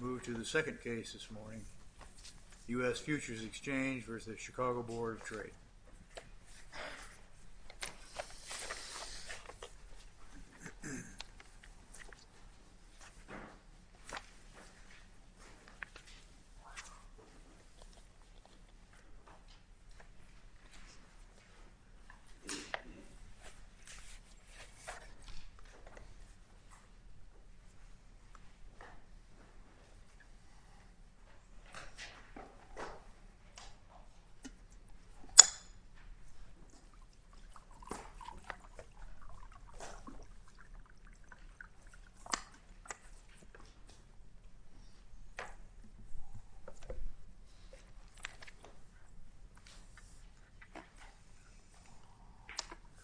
Move to the second case this morning, U.S. Futures Exchange v. the Chicago Board of Trade.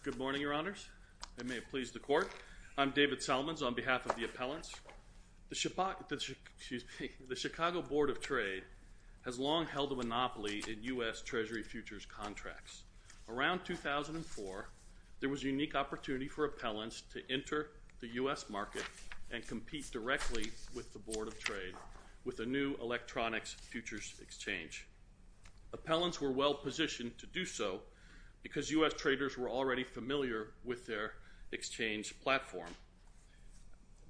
Good morning, Your Honors, and may it please the Court, I'm David Solomons on behalf of the appellants. The Chicago Board of Trade has long held a monopoly in U.S. Treasury futures contracts. Around 2004, there was a unique opportunity for appellants to enter the U.S. market and compete directly with the Board of Trade with a new electronics futures exchange. Appellants were well-positioned to do so because U.S. traders were already familiar with their exchange platform,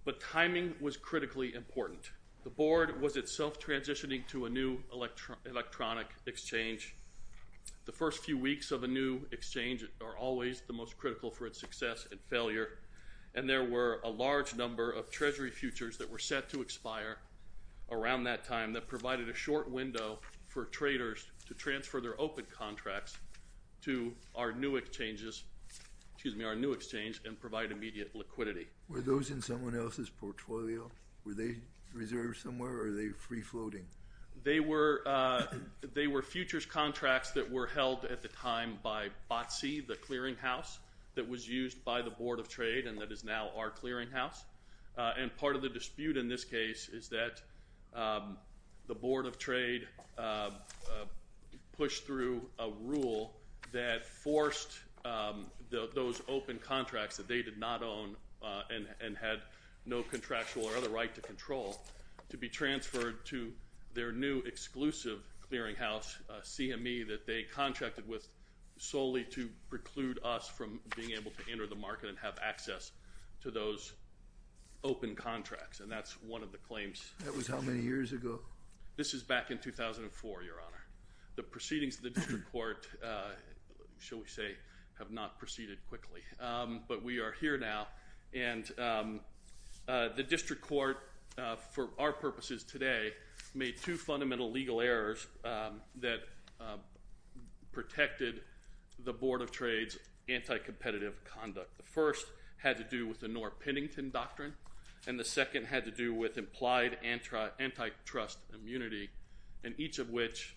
but timing was critically important. The Board was itself transitioning to a new electronic exchange. The first few weeks of a new exchange are always the most critical for its success and failure, and there were a large number of Treasury futures that were set to expire around that time that provided a short window for traders to transfer their open contracts to our new exchange and provide immediate liquidity. Were those in someone else's portfolio? Were they reserved somewhere or were they free-floating? They were futures contracts that were held at the time by BOTC, the clearinghouse that was used by the Board of Trade and that is now our clearinghouse, and part of the dispute in this case is that the Board of Trade pushed through a rule that forced those open contracts that they did not own and had no contractual or other right to control to be transferred to their new exclusive clearinghouse, CME, that they contracted with solely to preclude us from being able to enter the market and have access to those open contracts, and that's one of the claims. That was how many years ago? This is back in 2004, Your Honor. The proceedings of the District Court, shall we say, have not proceeded quickly, but we are here now, and the District Court, for our purposes today, made two fundamental legal errors that protected the Board of Trade's anti-competitive conduct. The first had to do with the Norr-Pennington Doctrine, and the second had to do with implied antitrust immunity, and each of which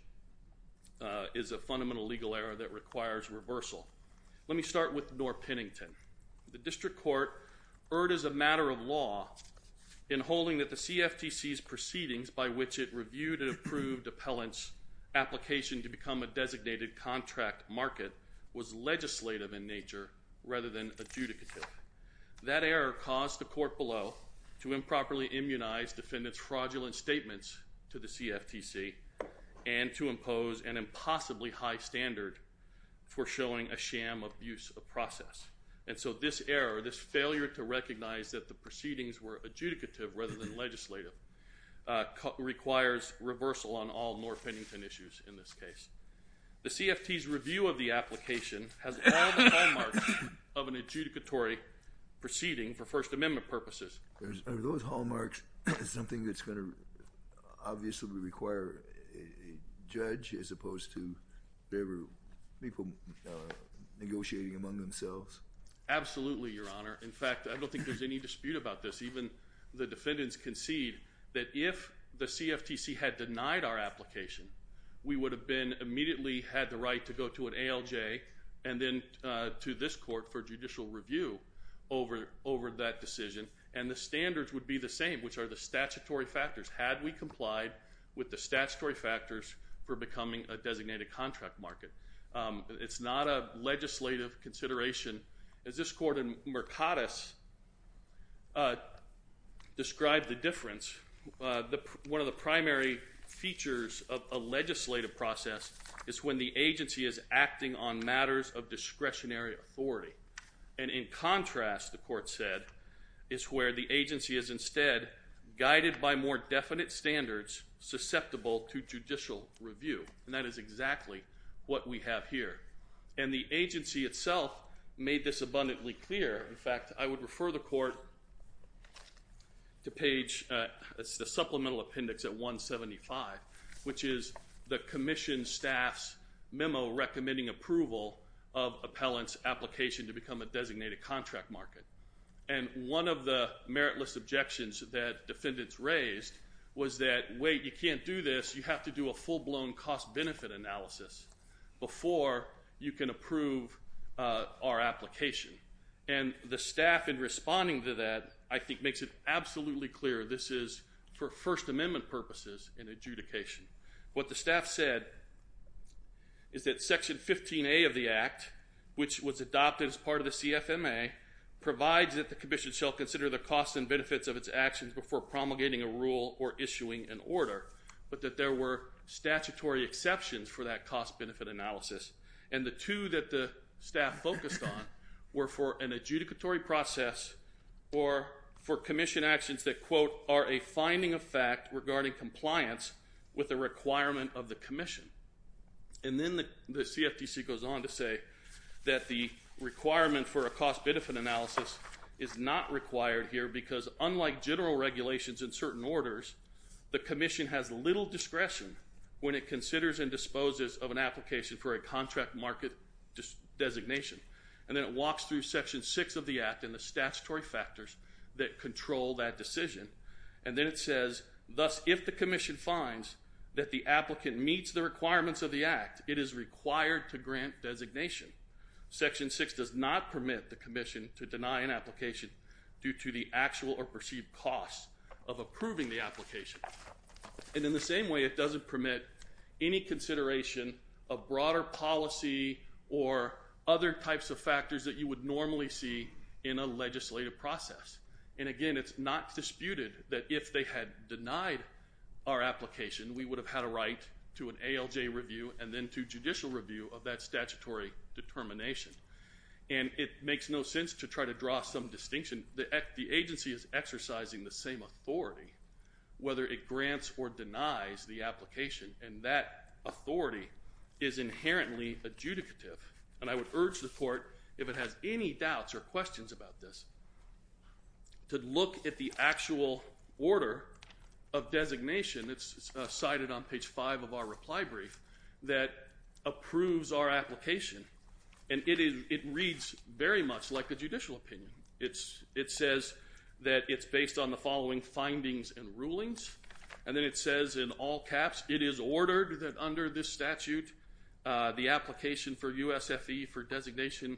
is a fundamental legal error that requires reversal. Let me start with Norr-Pennington. The District Court erred as a matter of law in holding that the CFTC's proceedings by which it reviewed and approved appellant's application to become a designated contract market was legislative in nature rather than adjudicative. That error caused the court below to improperly immunize defendant's fraudulent statements to the CFTC and to impose an impossibly high standard for showing a sham abuse of process, and so this error, this failure to recognize that the proceedings were adjudicative rather than legislative, requires reversal on all Norr-Pennington issues in this case. The CFTC's review of the application has all the hallmarks of an adjudicatory proceeding for First Amendment purposes. Are those hallmarks something that's going to obviously require a judge as opposed to people negotiating among themselves? Absolutely, Your Honor. In fact, I don't think there's any dispute about this. Even the defendants concede that if the CFTC had denied our application, we would have then immediately had the right to go to an ALJ and then to this court for judicial review over that decision, and the standards would be the same, which are the statutory factors. Had we complied with the statutory factors for becoming a designated contract market, it's not a legislative consideration. As this court in Mercatus described the difference, one of the primary features of a legislative process is when the agency is acting on matters of discretionary authority. And in contrast, the court said, is where the agency is instead guided by more definite standards susceptible to judicial review, and that is exactly what we have here. And the agency itself made this abundantly clear. In fact, I would refer the court to page—it's the supplemental appendix at 175, which is the commission staff's memo recommending approval of appellant's application to become a designated contract market. And one of the meritless objections that defendants raised was that, wait, you can't do this. You have to do a full-blown cost-benefit analysis before you can approve our application. And the staff in responding to that, I think, makes it absolutely clear this is for First Amendment purposes in adjudication. What the staff said is that Section 15A of the Act, which was adopted as part of the CFMA, provides that the commission shall consider the costs and benefits of its actions before promulgating a rule or issuing an order, but that there were statutory exceptions for that cost-benefit analysis. And the two that the staff focused on were for an adjudicatory process or for commission actions that, quote, are a finding of fact regarding compliance with the requirement of the commission. And then the CFTC goes on to say that the requirement for a cost-benefit analysis is not required here because, unlike general regulations in certain orders, the commission has little discretion when it considers and disposes of an application for a contract market designation. And then it walks through Section 6 of the Act and the statutory factors that control that decision. And then it says, thus, if the commission finds that the applicant meets the requirements of the Act, it is required to grant designation. Section 6 does not permit the commission to deny an application due to the actual or perceived cost of approving the application. And in the same way, it doesn't permit any consideration of broader policy or other types of factors that you would normally see in a legislative process. And again, it's not disputed that if they had denied our application, we would have had a right to an ALJ review and then to judicial review of that statutory determination. And it makes no sense to try to draw some distinction. The agency is exercising the same authority, whether it grants or denies the application, and that authority is inherently adjudicative. And I would urge the Court, if it has any doubts or questions about this, to look at the actual order of designation. It's cited on page 5 of our reply brief that approves our application. And it reads very much like a judicial opinion. It says that it's based on the following findings and rulings. And then it says in all caps, it is ordered that under this statute, the application for USFE for designation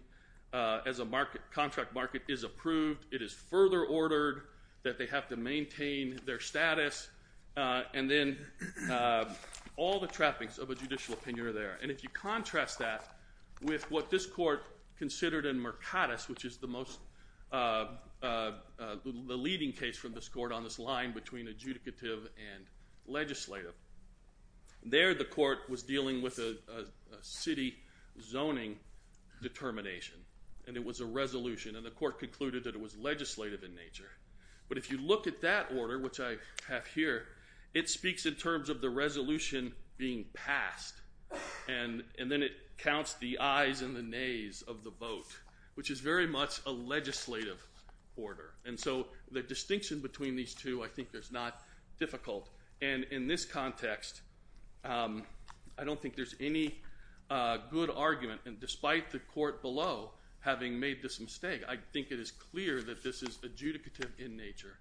as a contract market is approved. It is further ordered that they have to maintain their status. And then all the trappings of a judicial opinion are there. And if you contrast that with what this Court considered in Mercatus, which is the most — the leading case from this Court on this line between adjudicative and legislative, there the Court was dealing with a city zoning determination. And it was a resolution. And the Court concluded that it was legislative in nature. But if you look at that order, which I have here, it speaks in terms of the resolution being passed, and then it counts the ayes and the nays of the vote, which is very much a legislative order. And so the distinction between these two, I think, is not difficult. And in this context, I don't think there's any good argument. And despite the Court below having made this mistake, I think it is clear that this is adjudicative in nature.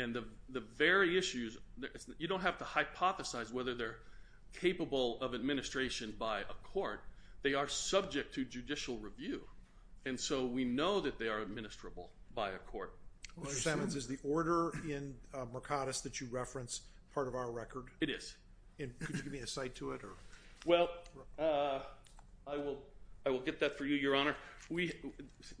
And the very issues — you don't have to hypothesize whether they're capable of administration by a court. They are subject to judicial review. And so we know that they are administrable by a court. Mr. Simmons, is the order in Mercatus that you reference part of our record? It is. And could you give me a cite to it? Well, I will get that for you, Your Honor.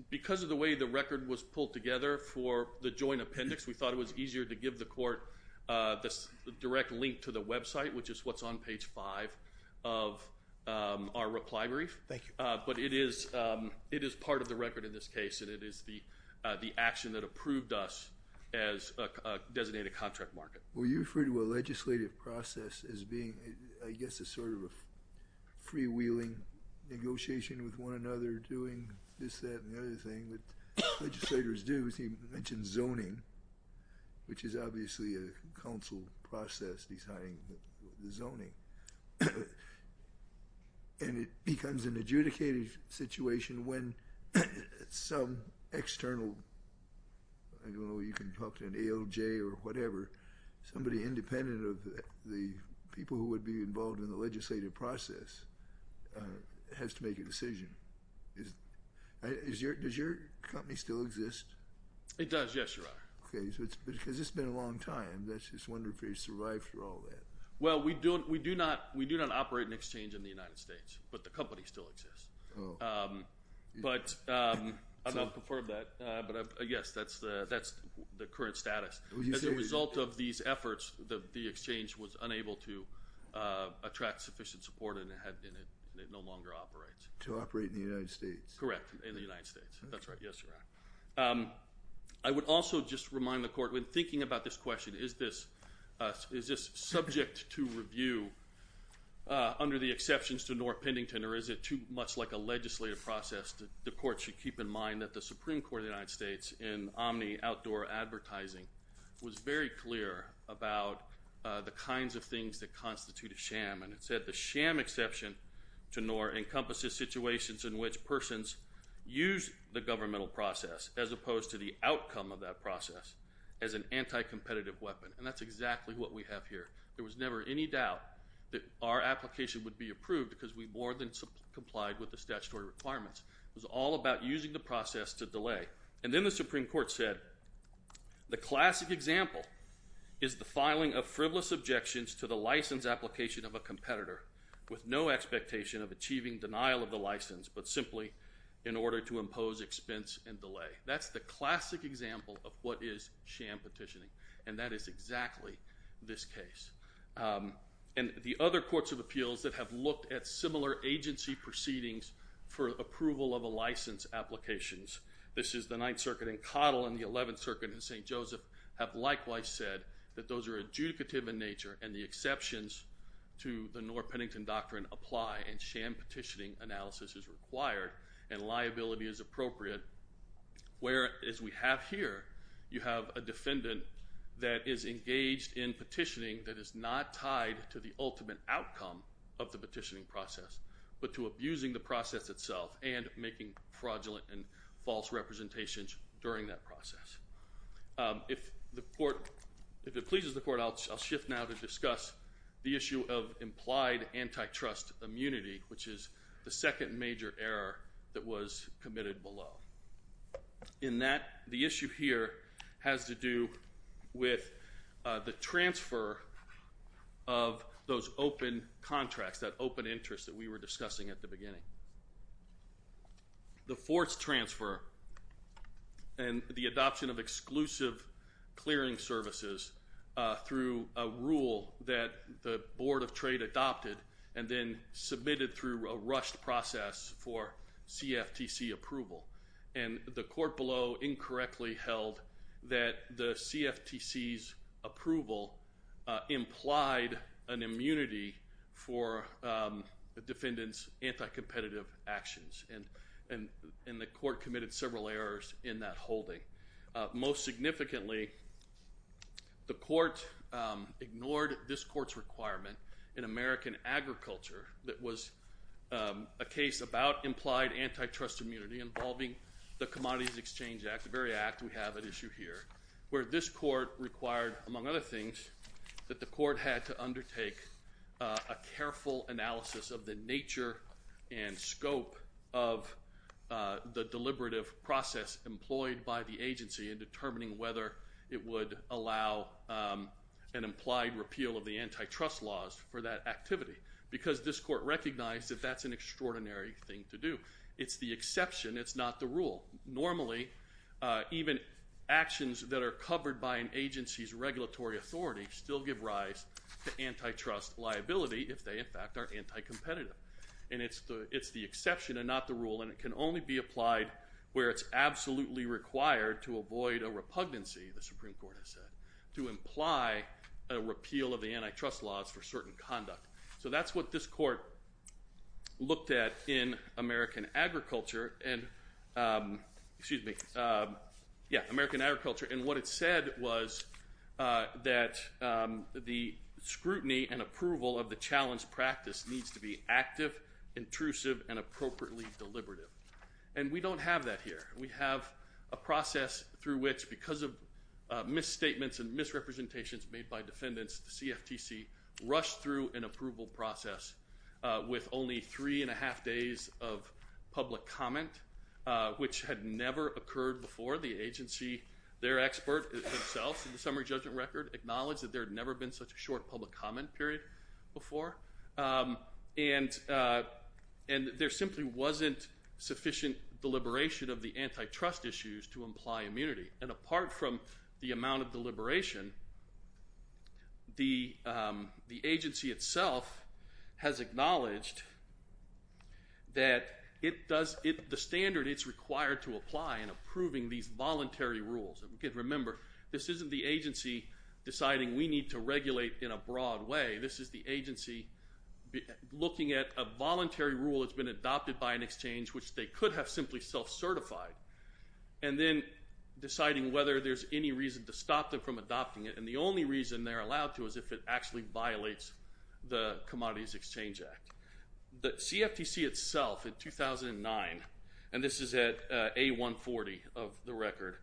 Because of the way the record was pulled together for the joint appendix, we thought it was easier to give the Court the direct link to the website, which is what's on page 5 of our reply brief. Thank you. But it is part of the record in this case, and it is the action that approved us as a designated contract market. Well, you refer to a legislative process as being, I guess, a sort of a freewheeling negotiation with one another, doing this, that, and the other thing. But legislators do, as you mentioned, zoning, which is obviously a counsel process, designing the zoning. And it becomes an adjudicated situation when some external, I don't know, you can talk to an ALJ or whatever, somebody independent of the people who would be involved in the legislative process has to make a decision. Does your company still exist? It does, yes, Your Honor. Okay. Because it's been a long time. That's just wonderful you survived through all that. Well, we do not operate an exchange in the United States, but the company still exists. Oh. But I don't know if you've heard of that, but I guess that's the current status. As a result of these efforts, the exchange was unable to attract sufficient support, and it no longer operates. To operate in the United States. Correct, in the United States. That's right. Yes, Your Honor. I would also just remind the Court, when thinking about this question, is this subject to review under the exceptions to Noor Pendington, or is it too much like a legislative process that the Court should keep in mind that the Supreme Court of the United States in Omni Outdoor Advertising was very clear about the kinds of things that constitute a sham. And it said the sham exception to Noor encompasses situations in which persons use the governmental process as opposed to the outcome of that process as an anti-competitive weapon. And that's exactly what we have here. There was never any doubt that our application would be approved because we more than complied with the statutory requirements. It was all about using the process to delay. And then the Supreme Court said, the classic example is the filing of frivolous objections to the license application of a competitor with no expectation of achieving denial of the license, but simply in order to impose expense and delay. That's the classic example of what is sham petitioning. And that is exactly this case. And the other courts of appeals that have looked at similar agency proceedings for approval of a license applications, this is the Ninth Circuit in Cottle and the Eleventh Circuit in St. Joseph, have likewise said that those are adjudicative in nature and the exceptions to the Noor-Pennington Doctrine apply and sham petitioning analysis is required and liability is appropriate. Whereas we have here, you have a defendant that is engaged in petitioning that is not tied to the ultimate outcome of the petitioning process, but to abusing the process itself and making fraudulent and false representations during that process. If it pleases the court, I'll shift now to discuss the issue of implied antitrust immunity, which is the second major error that was committed below. In that, the issue here has to do with the transfer of those open contracts, that open interest that we were discussing at the beginning. The forced transfer and the adoption of exclusive clearing services through a rule that the Board of Trade adopted and then submitted through a rushed process for CFTC approval. The court below incorrectly held that the CFTC's approval implied an immunity for defendants' anti-competitive actions and the court committed several errors in that holding. Most significantly, the court ignored this court's requirement in American Agriculture that was a case about implied antitrust immunity involving the Commodities Exchange Act, the very act we have at issue here, where this court required, among other things, that the court had to undertake a careful analysis of the nature and scope of the deliberative process employed by the agency in determining whether it would allow an implied repeal of the antitrust laws for that activity. Because this court recognized that that's an extraordinary thing to do. It's the exception. It's not the rule. Normally, even actions that are covered by an agency's regulatory authority still give rise to antitrust liability if they, in fact, are anti-competitive. And it's the exception and not the rule, and it can only be applied where it's absolutely required to avoid a repugnancy, the Supreme Court has said, to imply a repeal of the antitrust laws for certain conduct. So that's what this court looked at in American Agriculture and, excuse me, yeah, American Agriculture, and what it said was that the scrutiny and approval of the challenge practice needs to be active, intrusive, and appropriately deliberative. And we don't have that here. We have a process through which, because of misstatements and misrepresentations made by defendants, the CFTC rushed through an approval process with only three and a half days of public comment, which had never occurred before. The agency, their expert themselves, in the summary judgment record, acknowledged that there had never been such a short public comment period before, and there simply wasn't sufficient deliberation of the antitrust issues to imply immunity. And apart from the amount of deliberation, the agency itself has acknowledged that it does, the standard it's required to apply in approving these voluntary rules, and again, remember, this isn't the agency deciding we need to regulate in a broad way. This is the agency looking at a voluntary rule that's been adopted by an exchange which they could have simply self-certified, and then deciding whether there's any reason to stop them from adopting it, and the only reason they're allowed to is if it actually violates the Commodities Exchange Act. The CFTC itself in 2009, and this is at A140 of the record,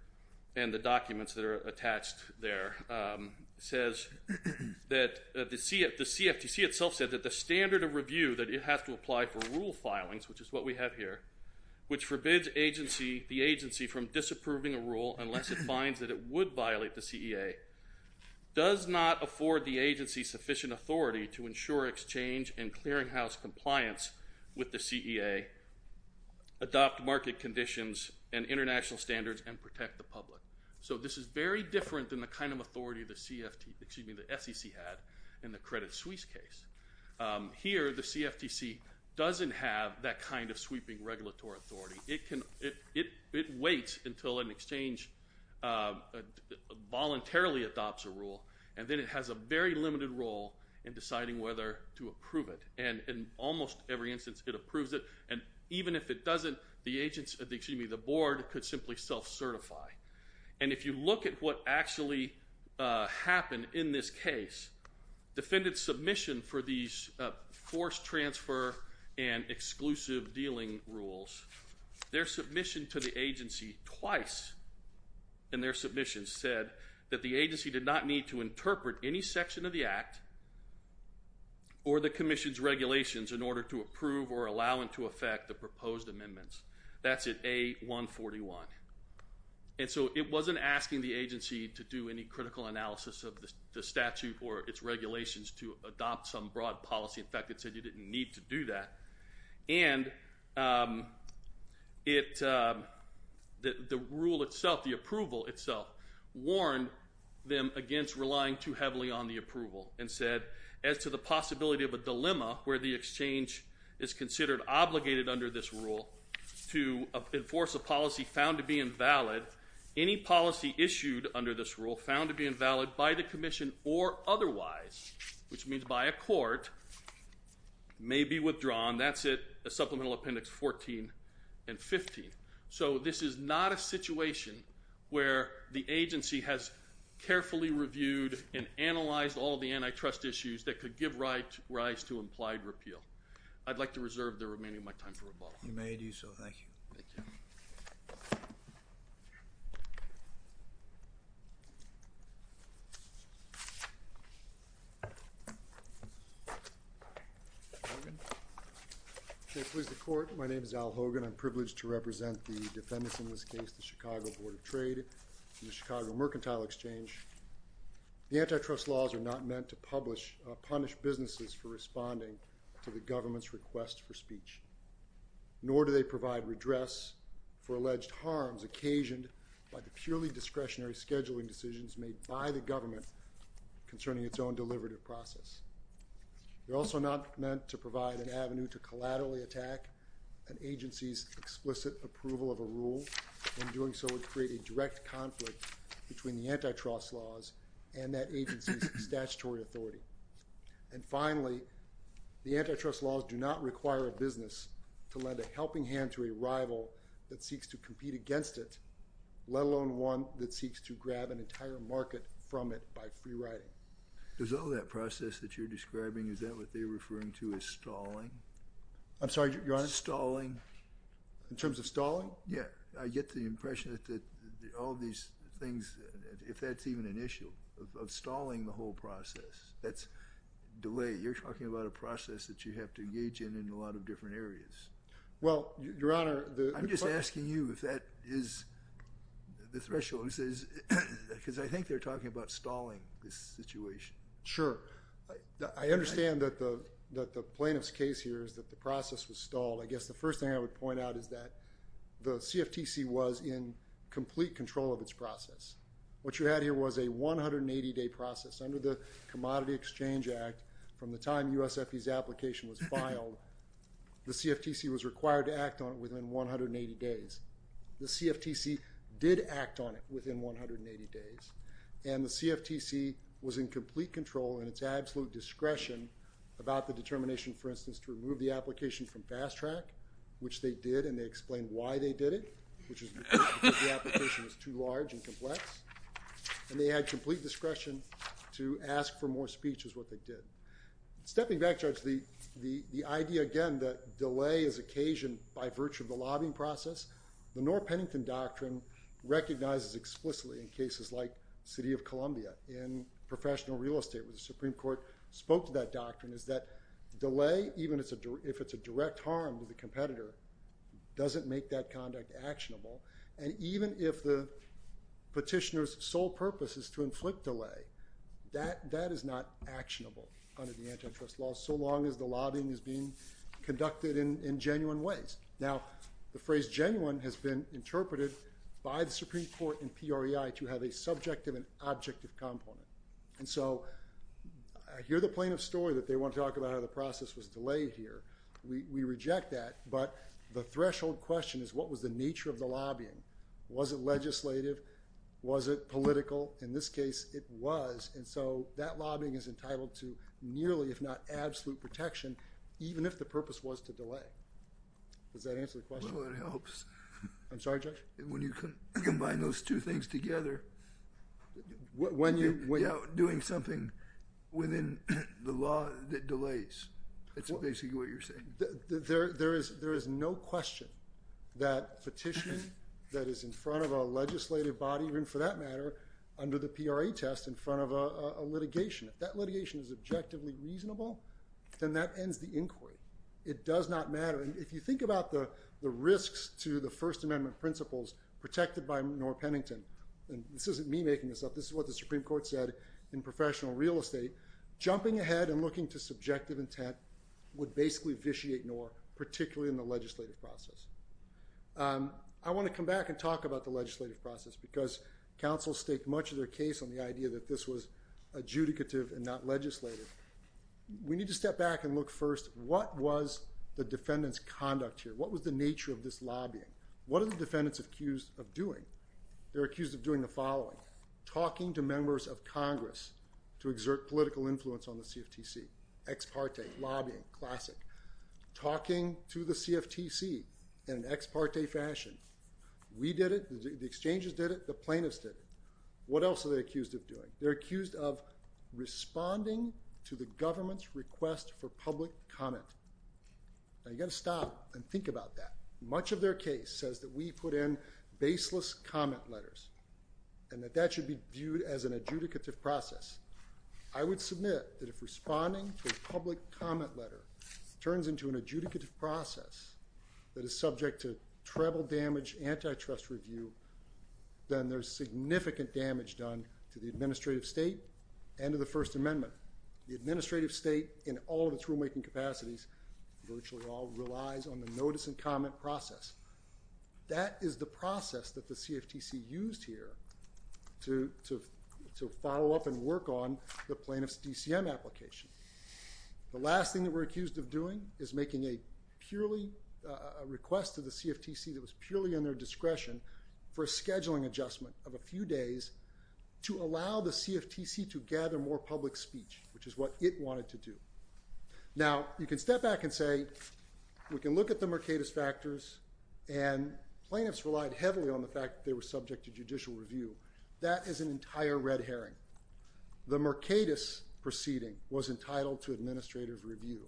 and the documents that are attached there, says that the CFTC itself said that the standard of review that it has to apply for rule filings, which is what we have here, which forbids the agency from disapproving a rule unless it finds that it would violate the CEA, does not afford the agency sufficient authority to ensure exchange and clearinghouse compliance with the CEA, adopt market conditions and international standards, and protect the public. So this is very different than the kind of authority the SEC had in the Credit Suisse case. Here, the CFTC doesn't have that kind of sweeping regulatory authority. It waits until an exchange voluntarily adopts a rule, and then it has a very limited role in deciding whether to approve it, and in almost every instance it approves it, and even if it doesn't, the board could simply self-certify. And if you look at what actually happened in this case, defendants' submission for these forced transfer and exclusive dealing rules, their submission to the agency twice in their submission said that the agency did not need to interpret any section of the Act or the Commission's regulations in order to approve or allow into effect the proposed amendments. That's at A141. And so it wasn't asking the agency to do any critical analysis of the statute or its regulations to adopt some broad policy. In fact, it said you didn't need to do that. And the rule itself, the approval itself, warned them against relying too heavily on the approval and said, as to the possibility of a dilemma where the exchange is considered obligated under this rule to enforce a policy found to be invalid, any policy issued under this rule found to be invalid by the Commission or otherwise, which means by a court, may be withdrawn. That's at Supplemental Appendix 14 and 15. So this is not a situation where the agency has carefully reviewed and analyzed all the antitrust issues that could give rise to implied repeal. I'd like to reserve the remaining of my time for rebuttal. You may do so. Thank you. Thank you. Mr. Hogan. May it please the Court. My name is Al Hogan. I'm privileged to represent the defendants in this case, the Chicago Board of Trade and the Chicago Mercantile Exchange. The antitrust laws are not meant to punish businesses for responding to the government's request for speech, nor do they provide redress for alleged harms occasioned by the purely discretionary scheduling decisions made by the government concerning its own deliberative process. They're also not meant to provide an avenue to collaterally attack an agency's explicit approval of a rule, and in doing so would create a direct conflict between the antitrust laws and that agency's statutory authority. And finally, the antitrust laws do not require a business to lend a helping hand to a rival that seeks to compete against it, let alone one that seeks to grab an entire market from it by free-riding. Does all that process that you're describing, is that what they're referring to as stalling? I'm sorry, Your Honor? Stalling. In terms of stalling? Yeah. I get the impression that all these things, if that's even an issue, of stalling the whole process, that's delay. You're talking about a process that you have to engage in in a lot of different areas. Well, Your Honor, the— I'm just asking you if that is the threshold, because I think they're talking about stalling this situation. I understand that the plaintiff's case here is that the process was stalled. I guess the first thing I would point out is that the CFTC was in complete control of its process. What you had here was a 180-day process. Under the Commodity Exchange Act, from the time USFE's application was filed, the CFTC was required to act on it within 180 days. The CFTC did act on it within 180 days, and the CFTC was in complete control and its absolute discretion about the determination, for instance, to remove the application from Fast Track, which they did, and they explained why they did it, which is because the application was too large and complex. And they had complete discretion to ask for more speech, is what they did. Stepping back, Judge, the idea, again, that delay is occasioned by virtue of the lobbying process, the Norr-Pennington Doctrine recognizes explicitly in cases like City of Columbia, in professional real estate, where the Supreme Court spoke to that doctrine, is that delay, even if it's a direct harm to the competitor, doesn't make that conduct actionable. And even if the petitioner's sole purpose is to inflict delay, that is not actionable under the antitrust law, so long as the lobbying is being conducted in genuine ways. Now, the phrase genuine has been interpreted by the Supreme Court in PREI to have a subjective objective component. And so, I hear the plaintiff's story that they want to talk about how the process was delayed here. We reject that, but the threshold question is, what was the nature of the lobbying? Was it legislative? Was it political? In this case, it was. And so, that lobbying is entitled to nearly, if not absolute protection, even if the purpose was to delay. Does that answer the question? Well, it helps. I'm sorry, Judge? When you combine those two things together, you're doing something within the law that delays. That's basically what you're saying. There is no question that petitioning that is in front of a legislative body, or even for that matter, under the PREI test, in front of a litigation, if that litigation is objectively reasonable, then that ends the inquiry. It does not matter. If you think about the risks to the First Amendment principles protected by Noor Pennington, and this isn't me making this up. This is what the Supreme Court said in professional real estate. Jumping ahead and looking to subjective intent would basically vitiate Noor, particularly in the legislative process. I want to come back and talk about the legislative process, because counsels stake much of their case on the idea that this was adjudicative and not legislative. We need to step back and look first, what was the defendant's conduct here? What was the nature of this lobbying? What are the defendants accused of doing? They're accused of doing the following. Talking to members of Congress to exert political influence on the CFTC. Ex parte, lobbying, classic. Talking to the CFTC in an ex parte fashion. We did it. The exchanges did it. The plaintiffs did it. What else are they accused of doing? They're accused of responding to the government's request for public comment. Now, you've got to stop and think about that. Much of their case says that we put in baseless comment letters, and that that should be viewed as an adjudicative process. I would submit that if responding to a public comment letter turns into an adjudicative process that is subject to treble damage antitrust review, then there's significant damage done to the administrative state and to the First Amendment. The administrative state in all of its rulemaking capacities virtually all relies on the notice and comment process. That is the process that the CFTC used here to follow up and work on the plaintiff's DCM application. The last thing that we're accused of doing is making a request to the CFTC that was purely in their discretion for a scheduling adjustment of a few days to allow the CFTC to gather more public speech, which is what it wanted to do. Now, you can step back and say, we can look at the Mercatus factors, and plaintiffs relied heavily on the fact that they were subject to judicial review. That is an entire red herring. The Mercatus proceeding was entitled to administrative review.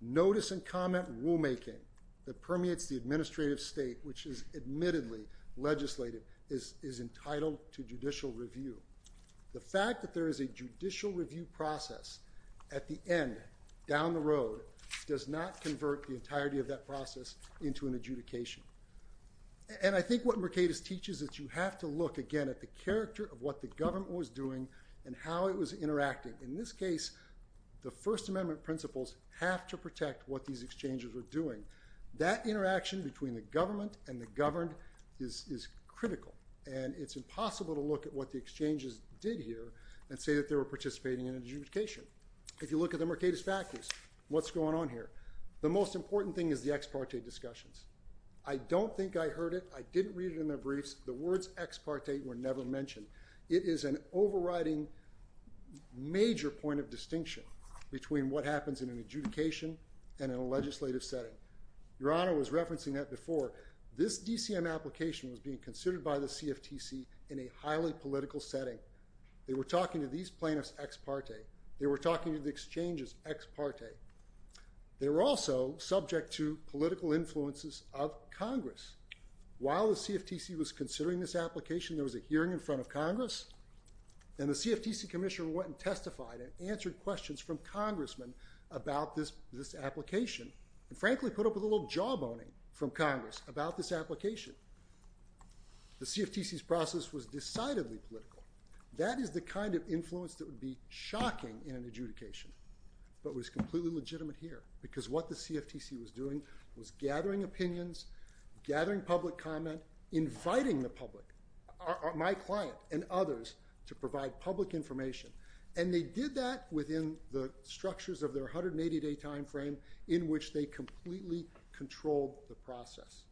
Notice and comment rulemaking that permeates the administrative state, which is admittedly legislative, is entitled to judicial review. The fact that there is a judicial review process at the end, down the road, does not convert the entirety of that process into an adjudication. And I think what Mercatus teaches is that you have to look, again, at the character of what the government was doing and how it was interacting. In this case, the First Amendment principles have to protect what these exchanges were doing. That interaction between the government and the governed is critical. And it's impossible to look at what the exchanges did here and say that they were participating in adjudication. If you look at the Mercatus factors, what's going on here? The most important thing is the ex parte discussions. I don't think I heard it. I didn't read it in their briefs. The words ex parte were never mentioned. It is an overriding major point of distinction between what happens in an adjudication and in a legislative setting. Your Honor was referencing that before. This DCM application was being considered by the CFTC in a highly political setting. They were talking to these plaintiffs ex parte. They were talking to the exchanges ex parte. They were also subject to political influences of Congress. While the CFTC was considering this application, there was a hearing in front of Congress. And the CFTC commissioner went and testified and answered questions from congressmen about this application. And frankly, put up with a little jawboning from Congress about this application. The CFTC's process was decidedly political. That is the kind of influence that would be shocking in an adjudication. But it was completely legitimate here. Because what the CFTC was doing was gathering opinions, gathering public comment, inviting the public, my client and others, to provide public information. And they did that within the structures of their 180 day time frame in which they completely controlled the process.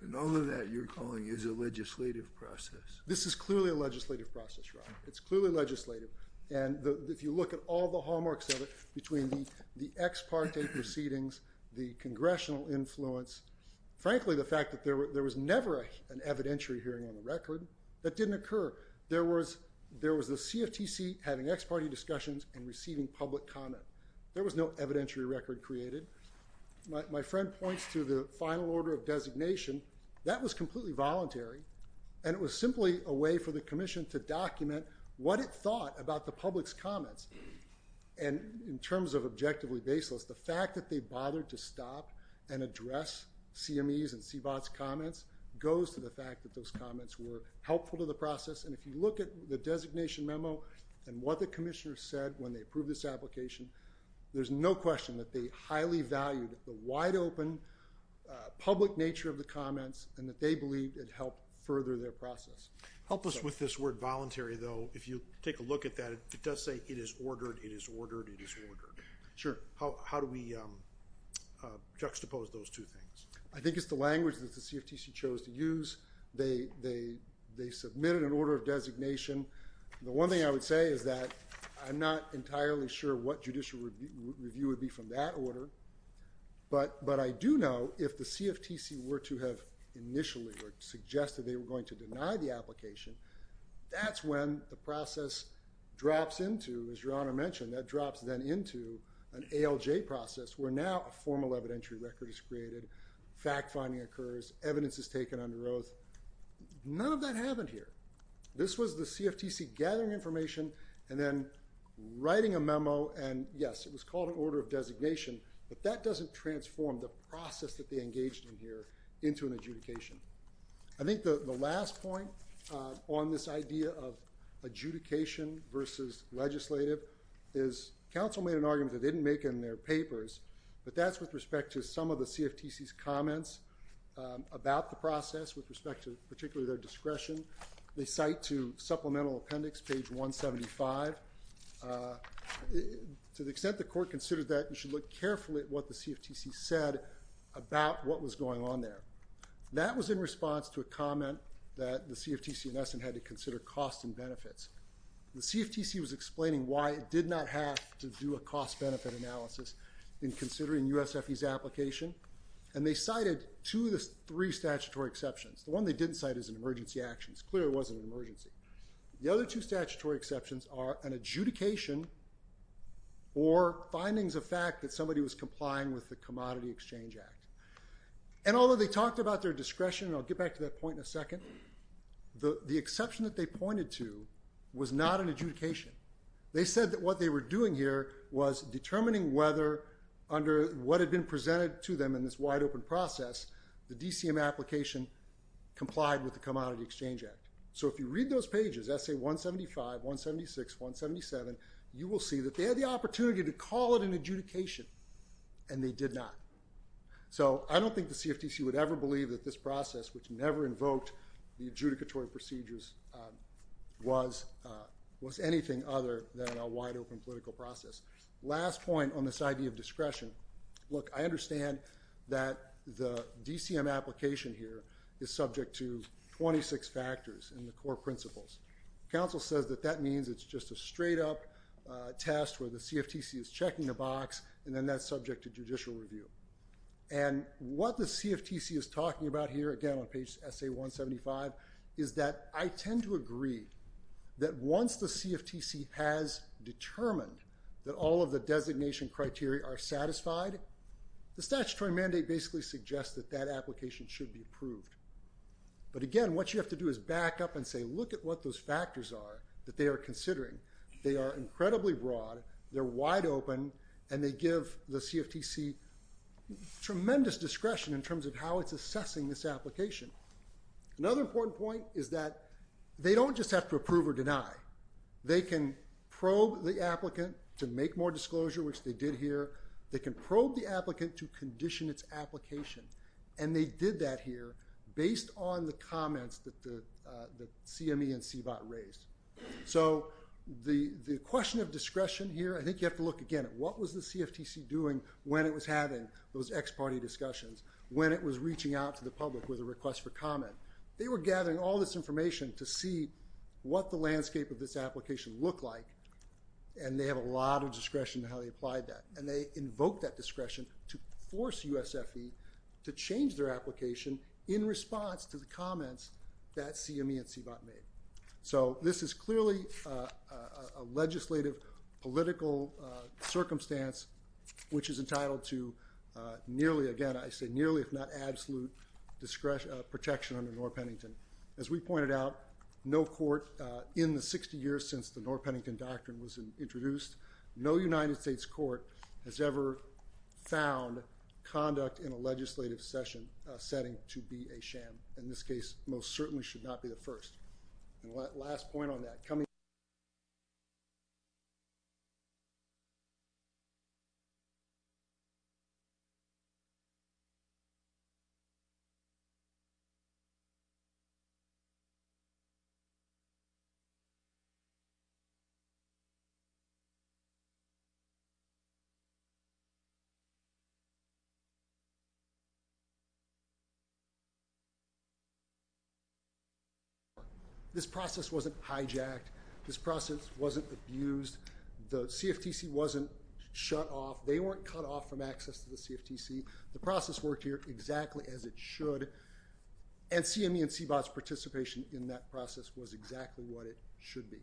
And all of that you're calling is a legislative process. This is clearly a legislative process, Your Honor. It's clearly legislative. And if you look at all the hallmarks of it, between the ex parte proceedings, the congressional influence, frankly, the fact that there was never an evidentiary hearing on the record, that didn't occur. There was the CFTC having ex parte discussions and receiving public comment. There was no evidentiary record created. My friend points to the final order of designation. That was completely voluntary. And it was simply a way for the commission to document what it thought about the public's comments. And in terms of objectively baseless, the fact that they bothered to stop and address CME's and CBOT's comments goes to the fact that those comments were helpful to the process. And if you look at the designation memo and what the commissioner said when they approved this application, there's no question that they highly valued the wide open public nature of the comments and that they believed it helped further their process. Help us with this word voluntary, though. If you take a look at that, it does say it is ordered, it is ordered, it is ordered. Sure. How do we juxtapose those two things? I think it's the language that the CFTC chose to use. They submitted an order of designation. The one thing I would say is that I'm not entirely sure what judicial review would be from that order. But I do know if the CFTC were to have initially suggested they were going to deny the application, that's when the process drops into, as Your Honor mentioned, that drops then into an ALJ process where now a formal evidentiary record is created, fact finding occurs, evidence is taken under oath. None of that happened here. This was the CFTC gathering information and then writing a memo and, yes, it was called an order of designation, but that doesn't transform the process that they engaged in here into an adjudication. I think the last point on this idea of adjudication versus legislative is counsel made an argument that they didn't make in their papers, but that's with respect to some of the CFTC's comments about the process with respect to particularly their discretion. They cite to supplemental appendix, page 175. To the extent the court considered that, you should look carefully at what the CFTC said about what was going on there. That was in response to a comment that the CFTC in essence had to consider cost and benefits. The CFTC was explaining why it did not have to do a cost-benefit analysis in considering USFE's application, and they cited two of the three statutory exceptions. The one they didn't cite is an emergency action. It's clear it wasn't an emergency. The other two statutory exceptions are an adjudication or findings of fact that somebody was complying with the Commodity Exchange Act, and although they talked about their discretion, and I'll get back to that point in a second, the exception that they pointed to was not an adjudication. They said that what they were doing here was determining whether under what had been presented to them in this wide-open process, the DCM application complied with the Commodity Exchange Act. So if you read those pages, essay 175, 176, 177, you will see that they had the opportunity to call it an adjudication, and they did not. So I don't think the CFTC would ever believe that this process, which never invoked the adjudicatory procedures, was anything other than a wide-open political process. Last point on this idea of discretion, look, I understand that the DCM application here is subject to 26 factors and the core principles. Counsel says that that means it's just a straight-up test where the CFTC is checking the box, and then that's subject to judicial review. And what the CFTC is talking about here, again, on page essay 175, is that I tend to agree that once the CFTC has determined that all of the designation criteria are satisfied, the statutory mandate basically suggests that that application should be approved. But again, what you have to do is back up and say, look at what those factors are that they are considering. They are incredibly broad, they're wide-open, and they give the CFTC tremendous discretion in terms of how it's assessing this application. Another important point is that they don't just have to approve or deny. They can probe the applicant to make more disclosure, which they did here. They can probe the applicant to condition its application. And they did that here based on the comments that the CME and CBOT raised. So the question of discretion here, I think you have to look again at what was the CFTC doing when it was having those ex-party discussions, when it was reaching out to the public with a request for comment. They were gathering all this information to see what the landscape of this application looked like, and they have a lot of discretion in how they applied that. And they invoked that discretion to force USFE to change their application in response to the comments that CME and CBOT made. So this is clearly a legislative, political circumstance which is entitled to nearly, again, I say nearly, if not absolute protection under North Pennington. As we pointed out, no court in the 60 years since the North Pennington Doctrine was introduced, no United States court has ever found conduct in a legislative setting to be a sham. In this case, most certainly should not be the first. And last point on that. This process wasn't hijacked. This process wasn't abused. The CFTC wasn't shut off. They weren't cut off from access to the CFTC. The process worked here exactly as it should. And CME and CBOT's participation in that process was exactly what it should be.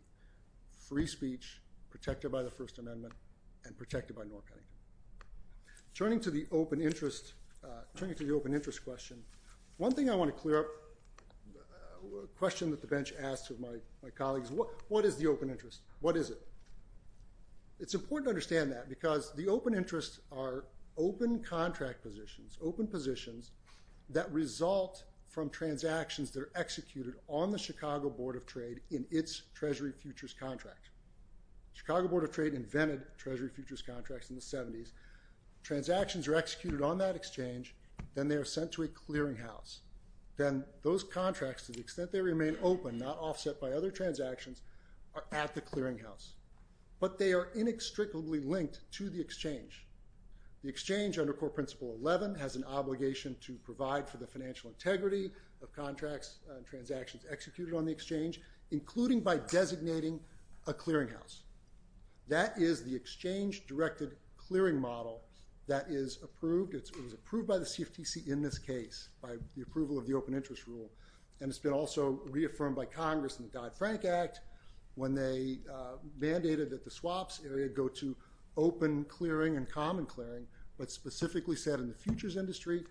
Free speech, protected by the First Amendment, and protected by North Pennington. Turning to the open interest question, one thing I want to clear up, a question that the bench asked of my colleagues, what is the open interest? What is it? It's important to understand that because the open interests are open contract positions, open positions that result from transactions that are executed on the Chicago Board of Trade futures contract. Chicago Board of Trade invented treasury futures contracts in the 70s. Transactions are executed on that exchange. Then they are sent to a clearinghouse. Then those contracts, to the extent they remain open, not offset by other transactions, are at the clearinghouse. But they are inextricably linked to the exchange. The exchange, under Core Principle 11, has an obligation to provide for the financial a clearinghouse. That is the exchange-directed clearing model that is approved. It was approved by the CFTC in this case, by the approval of the open interest rule. And it's been also reaffirmed by Congress in the Dodd-Frank Act when they mandated that the swaps area go to open clearing and common clearing. But specifically set in the futures industry,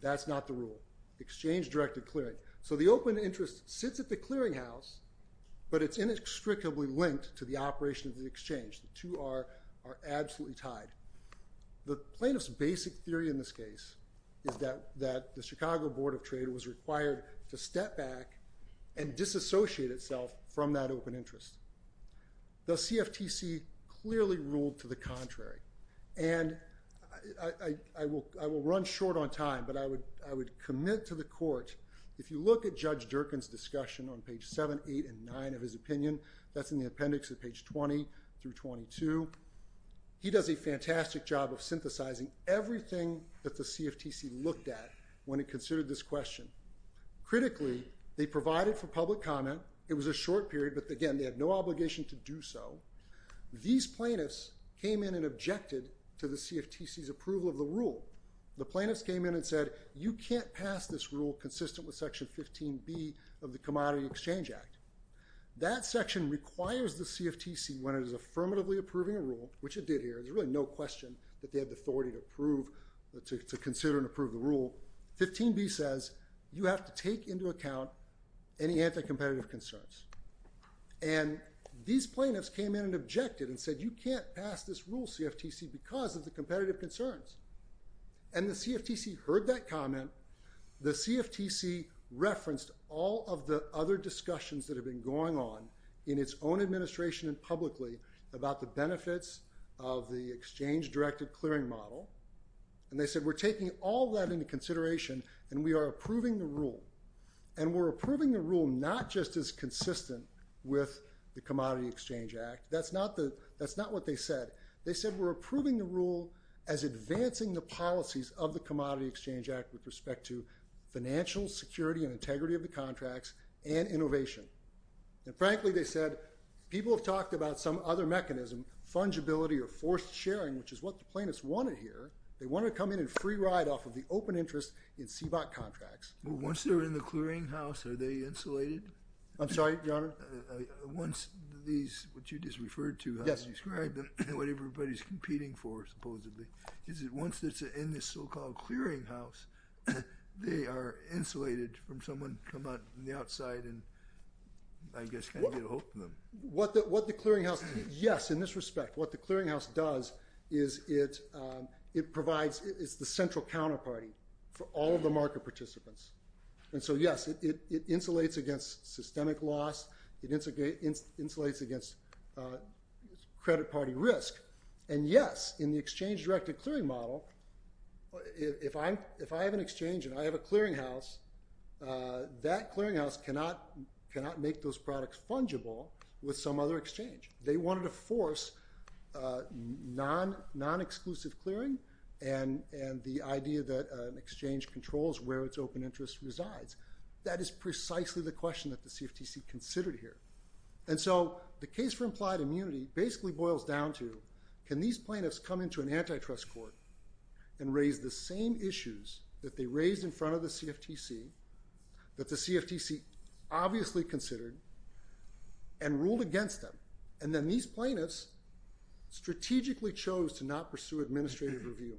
that's not the rule. Exchange-directed clearing. So the open interest sits at the clearinghouse, but it's inextricably linked to the operation of the exchange. The two are absolutely tied. The plaintiff's basic theory in this case is that the Chicago Board of Trade was required to step back and disassociate itself from that open interest. The CFTC clearly ruled to the contrary. And I will run short on time, but I would commit to the court, if you look at Judge Durkin's discussion on page 7, 8, and 9 of his opinion, that's in the appendix at page 20 through 22, he does a fantastic job of synthesizing everything that the CFTC looked at when it considered this question. Critically, they provided for public comment. It was a short period, but again, they had no obligation to do so. These plaintiffs came in and objected to the CFTC's approval of the rule. The plaintiffs came in and said, you can't pass this rule consistent with section 15B of the Commodity Exchange Act. That section requires the CFTC, when it is affirmatively approving a rule, which it did here, there's really no question that they had the authority to approve, to consider and approve the rule. 15B says, you have to take into account any anti-competitive concerns. And these plaintiffs came in and objected and said, you can't pass this rule, CFTC, because of the competitive concerns. And the CFTC heard that comment. The CFTC referenced all of the other discussions that have been going on in its own administration and publicly about the benefits of the exchange-directed clearing model. And they said, we're taking all that into consideration, and we are approving the rule. And we're approving the rule not just as consistent with the Commodity Exchange Act. That's not what they said. They said, we're approving the rule as advancing the policies of the Commodity Exchange Act with respect to financial security and integrity of the contracts and innovation. And frankly, they said, people have talked about some other mechanism, fungibility or forced sharing, which is what the plaintiffs wanted here. They wanted to come in and free ride off of the open interest in CBOC contracts. Well, once they're in the clearinghouse, are they insulated? I'm sorry, Your Honor? Once these, what you just referred to, how you described them, and what everybody's competing for, supposedly, is that once it's in this so-called clearinghouse, they are insulated from someone coming out from the outside and, I guess, kind of get a hold of them. What the clearinghouse, yes, in this respect. What the clearinghouse does is it provides, it's the central counterparty for all of the market participants. And so, yes, it insulates against systemic loss. It insulates against credit party risk. And yes, in the exchange-directed clearing model, if I have an exchange and I have a clearinghouse, that clearinghouse cannot make those products fungible with some other exchange. They wanted to force non-exclusive clearing and the idea that an exchange controls where its open interest resides. That is precisely the question that the CFTC considered here. And so the case for implied immunity basically boils down to, can these plaintiffs come into an antitrust court and raise the same issues that they raised in front of the CFTC, that these plaintiffs strategically chose to not pursue administrative review.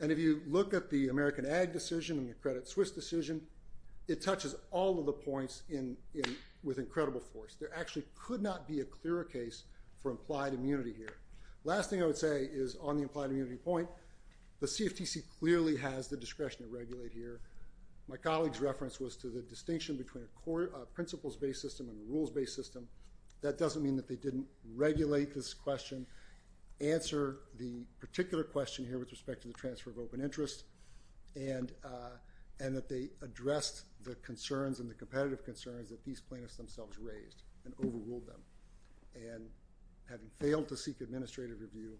And if you look at the American Ag decision and the Credit Suisse decision, it touches all of the points with incredible force. There actually could not be a clearer case for implied immunity here. Last thing I would say is on the implied immunity point, the CFTC clearly has the discretion to regulate here. My colleague's reference was to the distinction between a principles-based system and a rules-based system. That doesn't mean that they didn't regulate this question, answer the particular question here with respect to the transfer of open interest, and that they addressed the concerns and the competitive concerns that these plaintiffs themselves raised and overruled them. And having failed to seek administrative review,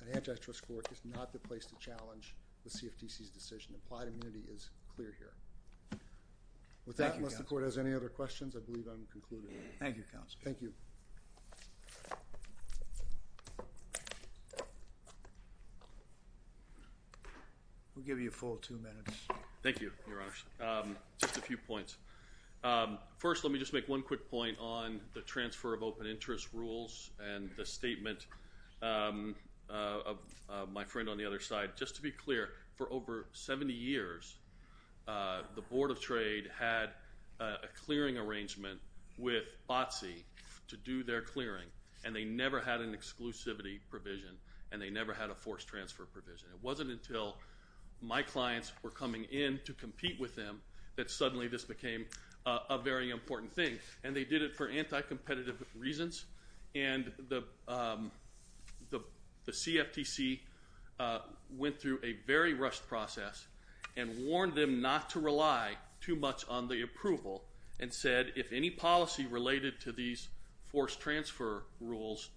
an antitrust court is not the place to challenge the CFTC's decision. Implied immunity is clear here. With that, unless the court has any other questions, I believe I'm concluded. Thank you, Counsel. Thank you. We'll give you a full two minutes. Thank you, Your Honor. Just a few points. First, let me just make one quick point on the transfer of open interest rules and the statement of my friend on the other side. Just to be clear, for over 70 years, the Board of Trade had a clearing arrangement with BOTC to do their clearing, and they never had an exclusivity provision, and they never had a forced transfer provision. It wasn't until my clients were coming in to compete with them that suddenly this became a very important thing, and they did it for anti-competitive reasons. And the CFTC went through a very rushed process and warned them not to rely too much on the approval and said, if any policy related to these forced transfer rules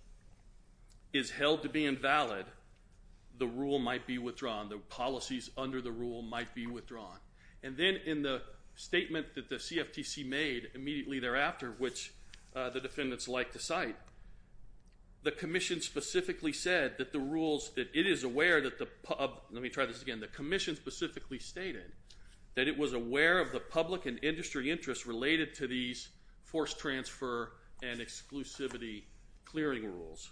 is held to be invalid, the rule might be withdrawn. The policies under the rule might be withdrawn. And then in the statement that the CFTC made immediately thereafter, which the defendants like to cite, the commission specifically stated that it was aware of the public and industry interests related to these forced transfer and exclusivity clearing rules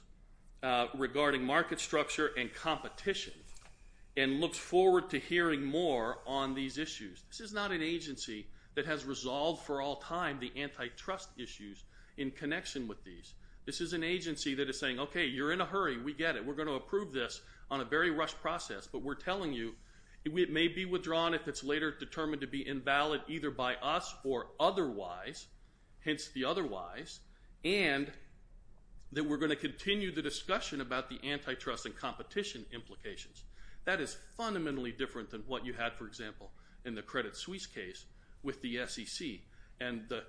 regarding market structure and competition and looks forward to hearing more on these issues. This is not an agency that has resolved for all time the antitrust issues in connection with these. This is an agency that is saying, okay, you're in a hurry, we get it, we're going to approve this on a very rushed process, but we're telling you it may be withdrawn if it's later determined to be invalid either by us or otherwise, hence the otherwise, and that we're going to continue the discussion about the antitrust and competition implications. That is fundamentally different than what you had, for example, in the Credit Suisse case with the SEC and the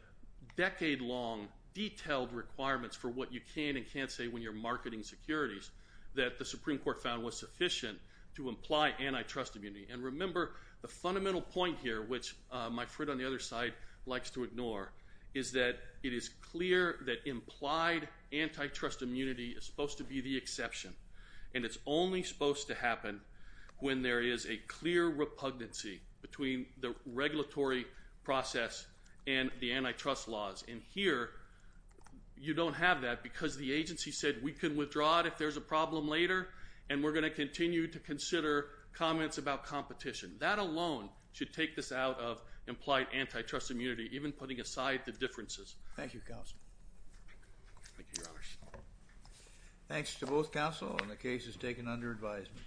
decade-long detailed requirements for what you can and can't say when you're marketing securities that the Supreme Court found was sufficient to imply antitrust immunity. And remember, the fundamental point here, which my friend on the other side likes to ignore, is that it is clear that implied antitrust immunity is supposed to be the exception and it's only supposed to happen when there is a clear repugnancy between the regulatory process and the antitrust laws, and here, you don't have that because the agency said we can withdraw it if there's a problem later and we're going to continue to consider comments about competition. That alone should take this out of implied antitrust immunity, even putting aside the differences. Thank you, Counsel. Thank you, Your Honors. Thanks to both counsel on the cases taken under advisement.